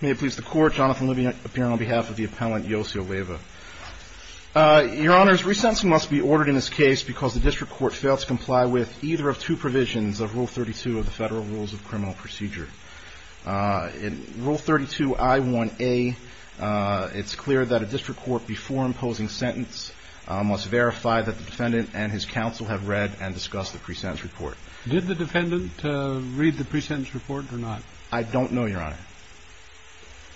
May it please the Court, Jonathan Levy appearing on behalf of the Appellant Yossi Leyva. Your Honors, resentencing must be ordered in this case because the District Court failed to comply with either of two provisions of Rule 32 of the Federal Rules of Criminal Procedure. In Rule 32I1A, it's clear that a District Court, before imposing sentence, must verify that the defendant and his counsel have read and discussed the pre-sentence report. Did the defendant read the pre-sentence report or not? I don't know, Your Honor.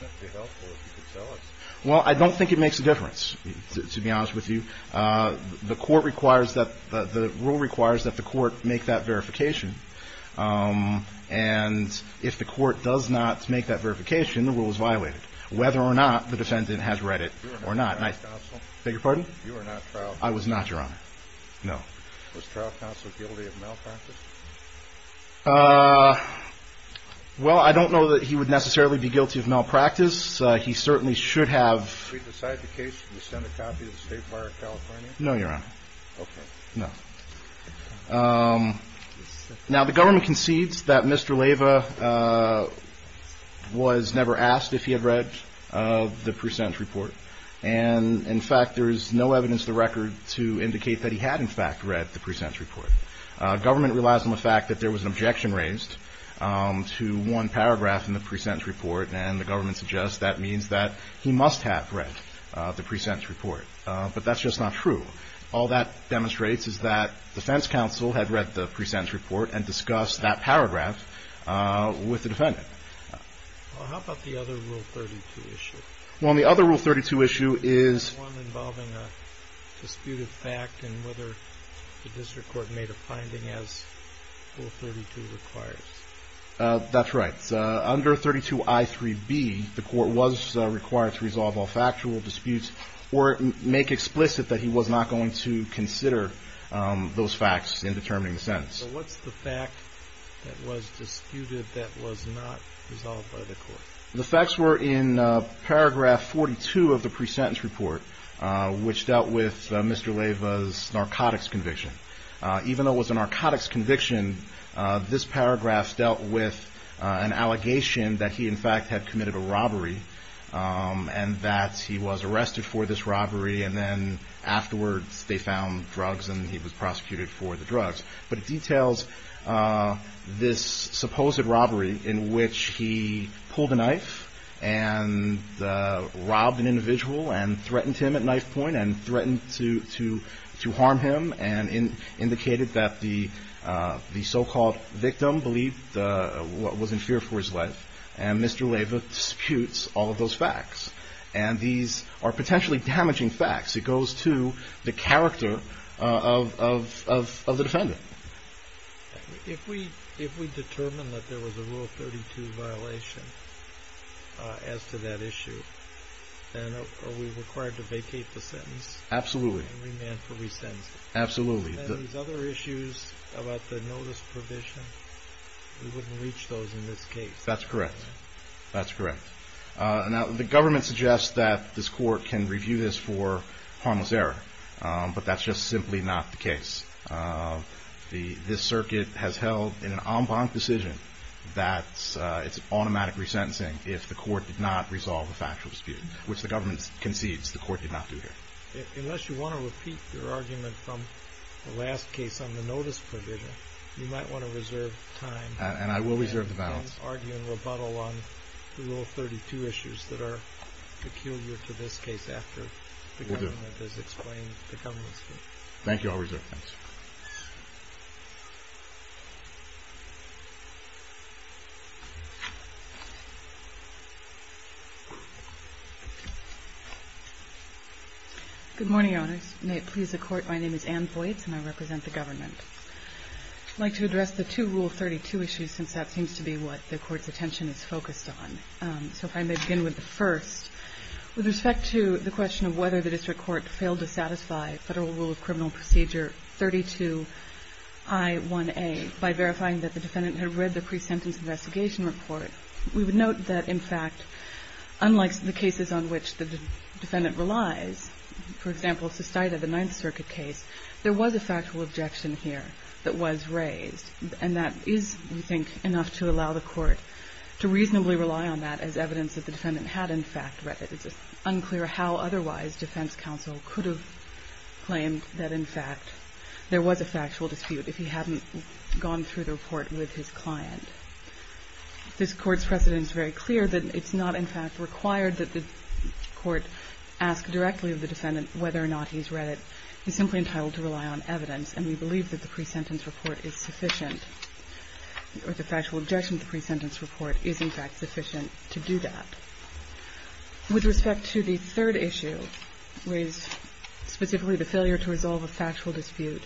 That would be helpful if you could tell us. Well, I don't think it makes a difference, to be honest with you. The Court requires that, the rule requires that the Court make that verification. And if the Court does not make that verification, the rule is violated, whether or not the defendant has read it or not. You were not Trout's counsel? Beg your pardon? You were not Trout's counsel? I was not, Your Honor. No. Was Trout's counsel guilty of malpractice? Well, I don't know that he would necessarily be guilty of malpractice. He certainly should have. Should we decide the case and send a copy to the State Fire of California? No, Your Honor. Okay. No. Now, the government concedes that Mr. Leyva was never asked if he had read the pre-sentence report. And, in fact, there is no evidence to the record to indicate that he had, in fact, read the pre-sentence report. Government relies on the fact that there was an objection raised to one paragraph in the pre-sentence report. And the government suggests that means that he must have read the pre-sentence report. But that's just not true. All that demonstrates is that defense counsel had read the pre-sentence report and discussed that paragraph with the defendant. Well, how about the other Rule 32 issue? Well, on the other Rule 32 issue is… The one involving a disputed fact and whether the district court made a finding as Rule 32 requires. That's right. Under 32I3B, the court was required to resolve all factual disputes or make explicit that he was not going to consider those facts in determining the sentence. So what's the fact that was disputed that was not resolved by the court? The facts were in paragraph 42 of the pre-sentence report, which dealt with Mr. Leyva's narcotics conviction. Even though it was a narcotics conviction, this paragraph dealt with an allegation that he, in fact, had committed a robbery and that he was arrested for this robbery and then afterwards they found drugs and he was prosecuted for the drugs. But it details this supposed robbery in which he pulled a knife and robbed an individual and threatened him at knife point and threatened to harm him and indicated that the so-called victim believed what was in fear for his life. And Mr. Leyva disputes all of those facts. And these are potentially damaging facts. It goes to the character of the defendant. If we determine that there was a Rule 32 violation as to that issue, then are we required to vacate the sentence? Absolutely. And remand for resentment? Absolutely. And these other issues about the notice provision, we wouldn't reach those in this case? That's correct. That's correct. Now, the government suggests that this court can review this for harmless error, but that's just simply not the case. This circuit has held in an en banc decision that it's automatic resentencing if the court did not resolve a factual dispute, which the government concedes the court did not do here. Unless you want to repeat your argument from the last case on the notice provision, you might want to reserve time. And I will reserve the balance. I will argue in rebuttal on the Rule 32 issues that are peculiar to this case after the government has explained the government's view. Thank you. I'll reserve the balance. Good morning, Owners. May it please the Court, my name is Anne Boyds, and I represent the government. I'd like to address the two Rule 32 issues, since that seems to be what the Court's attention is focused on. So if I may begin with the first. With respect to the question of whether the district court failed to satisfy Federal Rule of Criminal Procedure 32I1A by verifying that the defendant had read the pre-sentence investigation report, we would note that, in fact, unlike the cases on which the defendant relies, for example, the Ninth Circuit case, there was a factual objection here that was raised. And that is, we think, enough to allow the Court to reasonably rely on that as evidence that the defendant had, in fact, read it. It's unclear how otherwise defense counsel could have claimed that, in fact, there was a factual dispute if he hadn't gone through the report with his client. This Court's precedent is very clear that it's not, in fact, required that the Court ask directly of the defendant whether or not he's read it. He's simply entitled to rely on evidence, and we believe that the pre-sentence report is sufficient, or the factual objection to the pre-sentence report is, in fact, sufficient to do that. With respect to the third issue, which is specifically the failure to resolve a factual dispute,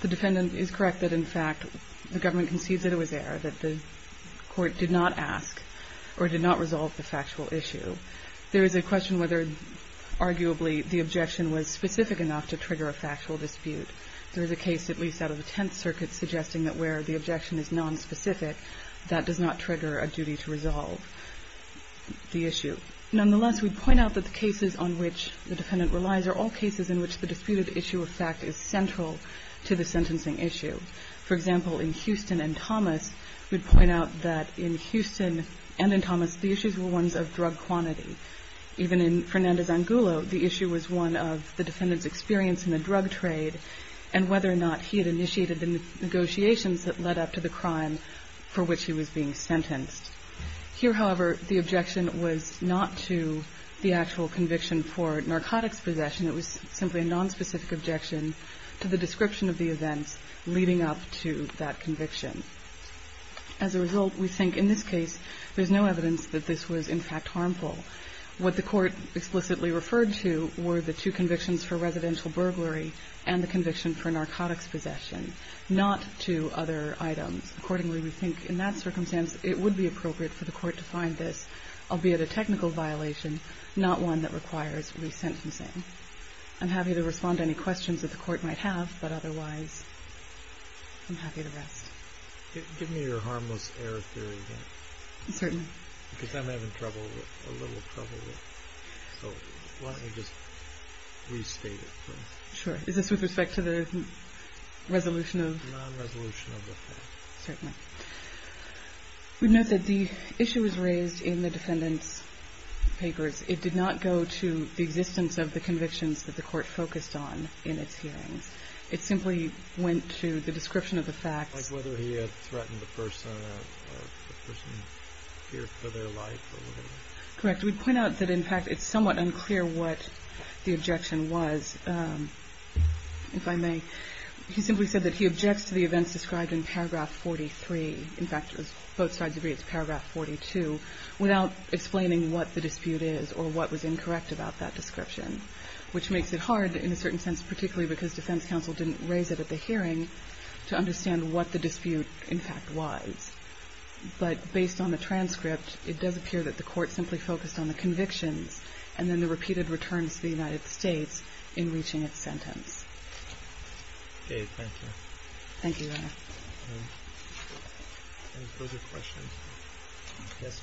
the defendant is correct that, in fact, the government concedes that it was there, that the Court did not ask or did not resolve the factual issue. There is a question whether, arguably, the objection was specific enough to trigger a factual dispute. There is a case, at least out of the Tenth Circuit, suggesting that where the objection is nonspecific, that does not trigger a duty to resolve the issue. Nonetheless, we'd point out that the cases on which the defendant relies are all cases in which the disputed issue of fact is central to the sentencing issue. For example, in Houston and Thomas, we'd point out that in Houston and in Thomas, the issues were ones of drug quantity. Even in Fernandez-Angulo, the issue was one of the defendant's experience in the drug trade and whether or not he had initiated the negotiations that led up to the crime for which he was being sentenced. Here, however, the objection was not to the actual conviction for narcotics possession. It was simply a nonspecific objection to the description of the events leading up to that conviction. As a result, we think in this case, there's no evidence that this was, in fact, harmful. What the Court explicitly referred to were the two convictions for residential burglary and the conviction for narcotics possession, not two other items. Accordingly, we think in that circumstance, it would be appropriate for the Court to find this, albeit a technical violation, not one that requires resentencing. I'm happy to respond to any questions that the Court might have, but otherwise I'm happy to rest. Give me your harmless error theory again. Certainly. Because I'm having trouble with it, a little trouble with it. So why don't you just restate it for me? Sure. Is this with respect to the resolution of? Non-resolution of the fact. Certainly. We note that the issue was raised in the defendant's papers. It did not go to the existence of the convictions that the Court focused on in its hearings. It simply went to the description of the facts. Like whether he had threatened the person or the person here for their life or whatever. Correct. We'd point out that, in fact, it's somewhat unclear what the objection was, if I may. He simply said that he objects to the events described in paragraph 43. In fact, both sides agree it's paragraph 42, without explaining what the dispute is or what was incorrect about that description, which makes it hard, in a certain sense, particularly because defense counsel didn't raise it at the hearing, to understand what the dispute, in fact, was. But based on the transcript, it does appear that the Court simply focused on the convictions and then the repeated returns to the United States in reaching its sentence. Okay. Thank you. Thank you, Your Honor. Any further questions? I guess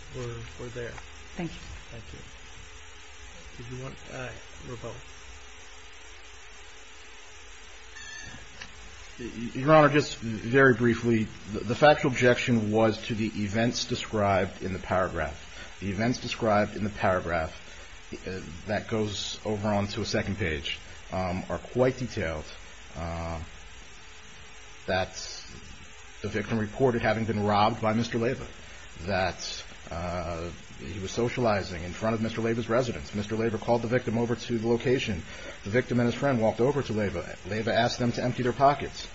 we're there. Thank you. Thank you. Did you want a rebuttal? Your Honor, just very briefly, the factual objection was to the events described in the paragraph. The events described in the paragraph that goes over onto a second page are quite detailed. That the victim reported having been robbed by Mr. Lava. That he was socializing in front of Mr. Lava's residence. Mr. Lava called the victim over to the location. The victim and his friend walked over to Lava. Lava asked them to empty their pockets.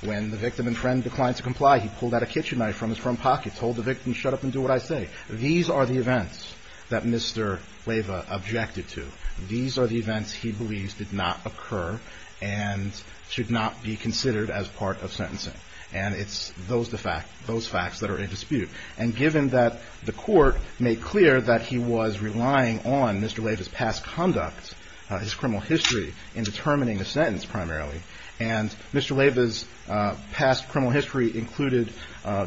When the victim and friend declined to comply, he pulled out a kitchen knife from his front pocket, told the victim, shut up and do what I say. These are the events that Mr. Lava objected to. These are the events he believes did not occur and should not be considered as part of sentencing. And it's those facts that are in dispute. And given that the court made clear that he was relying on Mr. Lava's past conduct, his criminal history, in determining the sentence primarily. And Mr. Lava's past criminal history included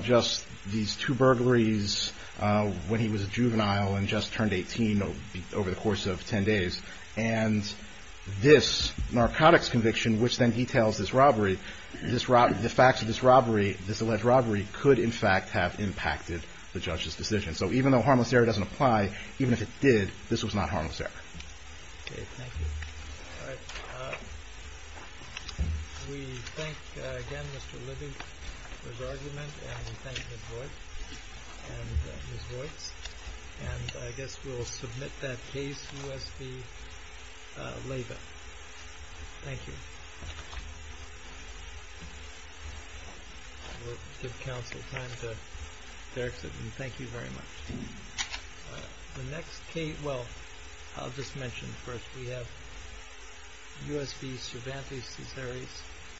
just these two burglaries when he was a juvenile and just turned 18 over the course of ten days. And this narcotics conviction, which then details this robbery, the fact that he had this robbery, this alleged robbery, could in fact have impacted the judge's decision. So even though harmless error doesn't apply, even if it did, this was not harmless error. Okay. Thank you. All right. We thank again Mr. Libby for his argument and we thank Ms. Royce. And I guess we'll submit that case, U.S. v. Lava. Thank you. We'll give counsel time to exit. Thank you very much. The next case, well, I'll just mention first, we have U.S. v. Cervantes Cesares.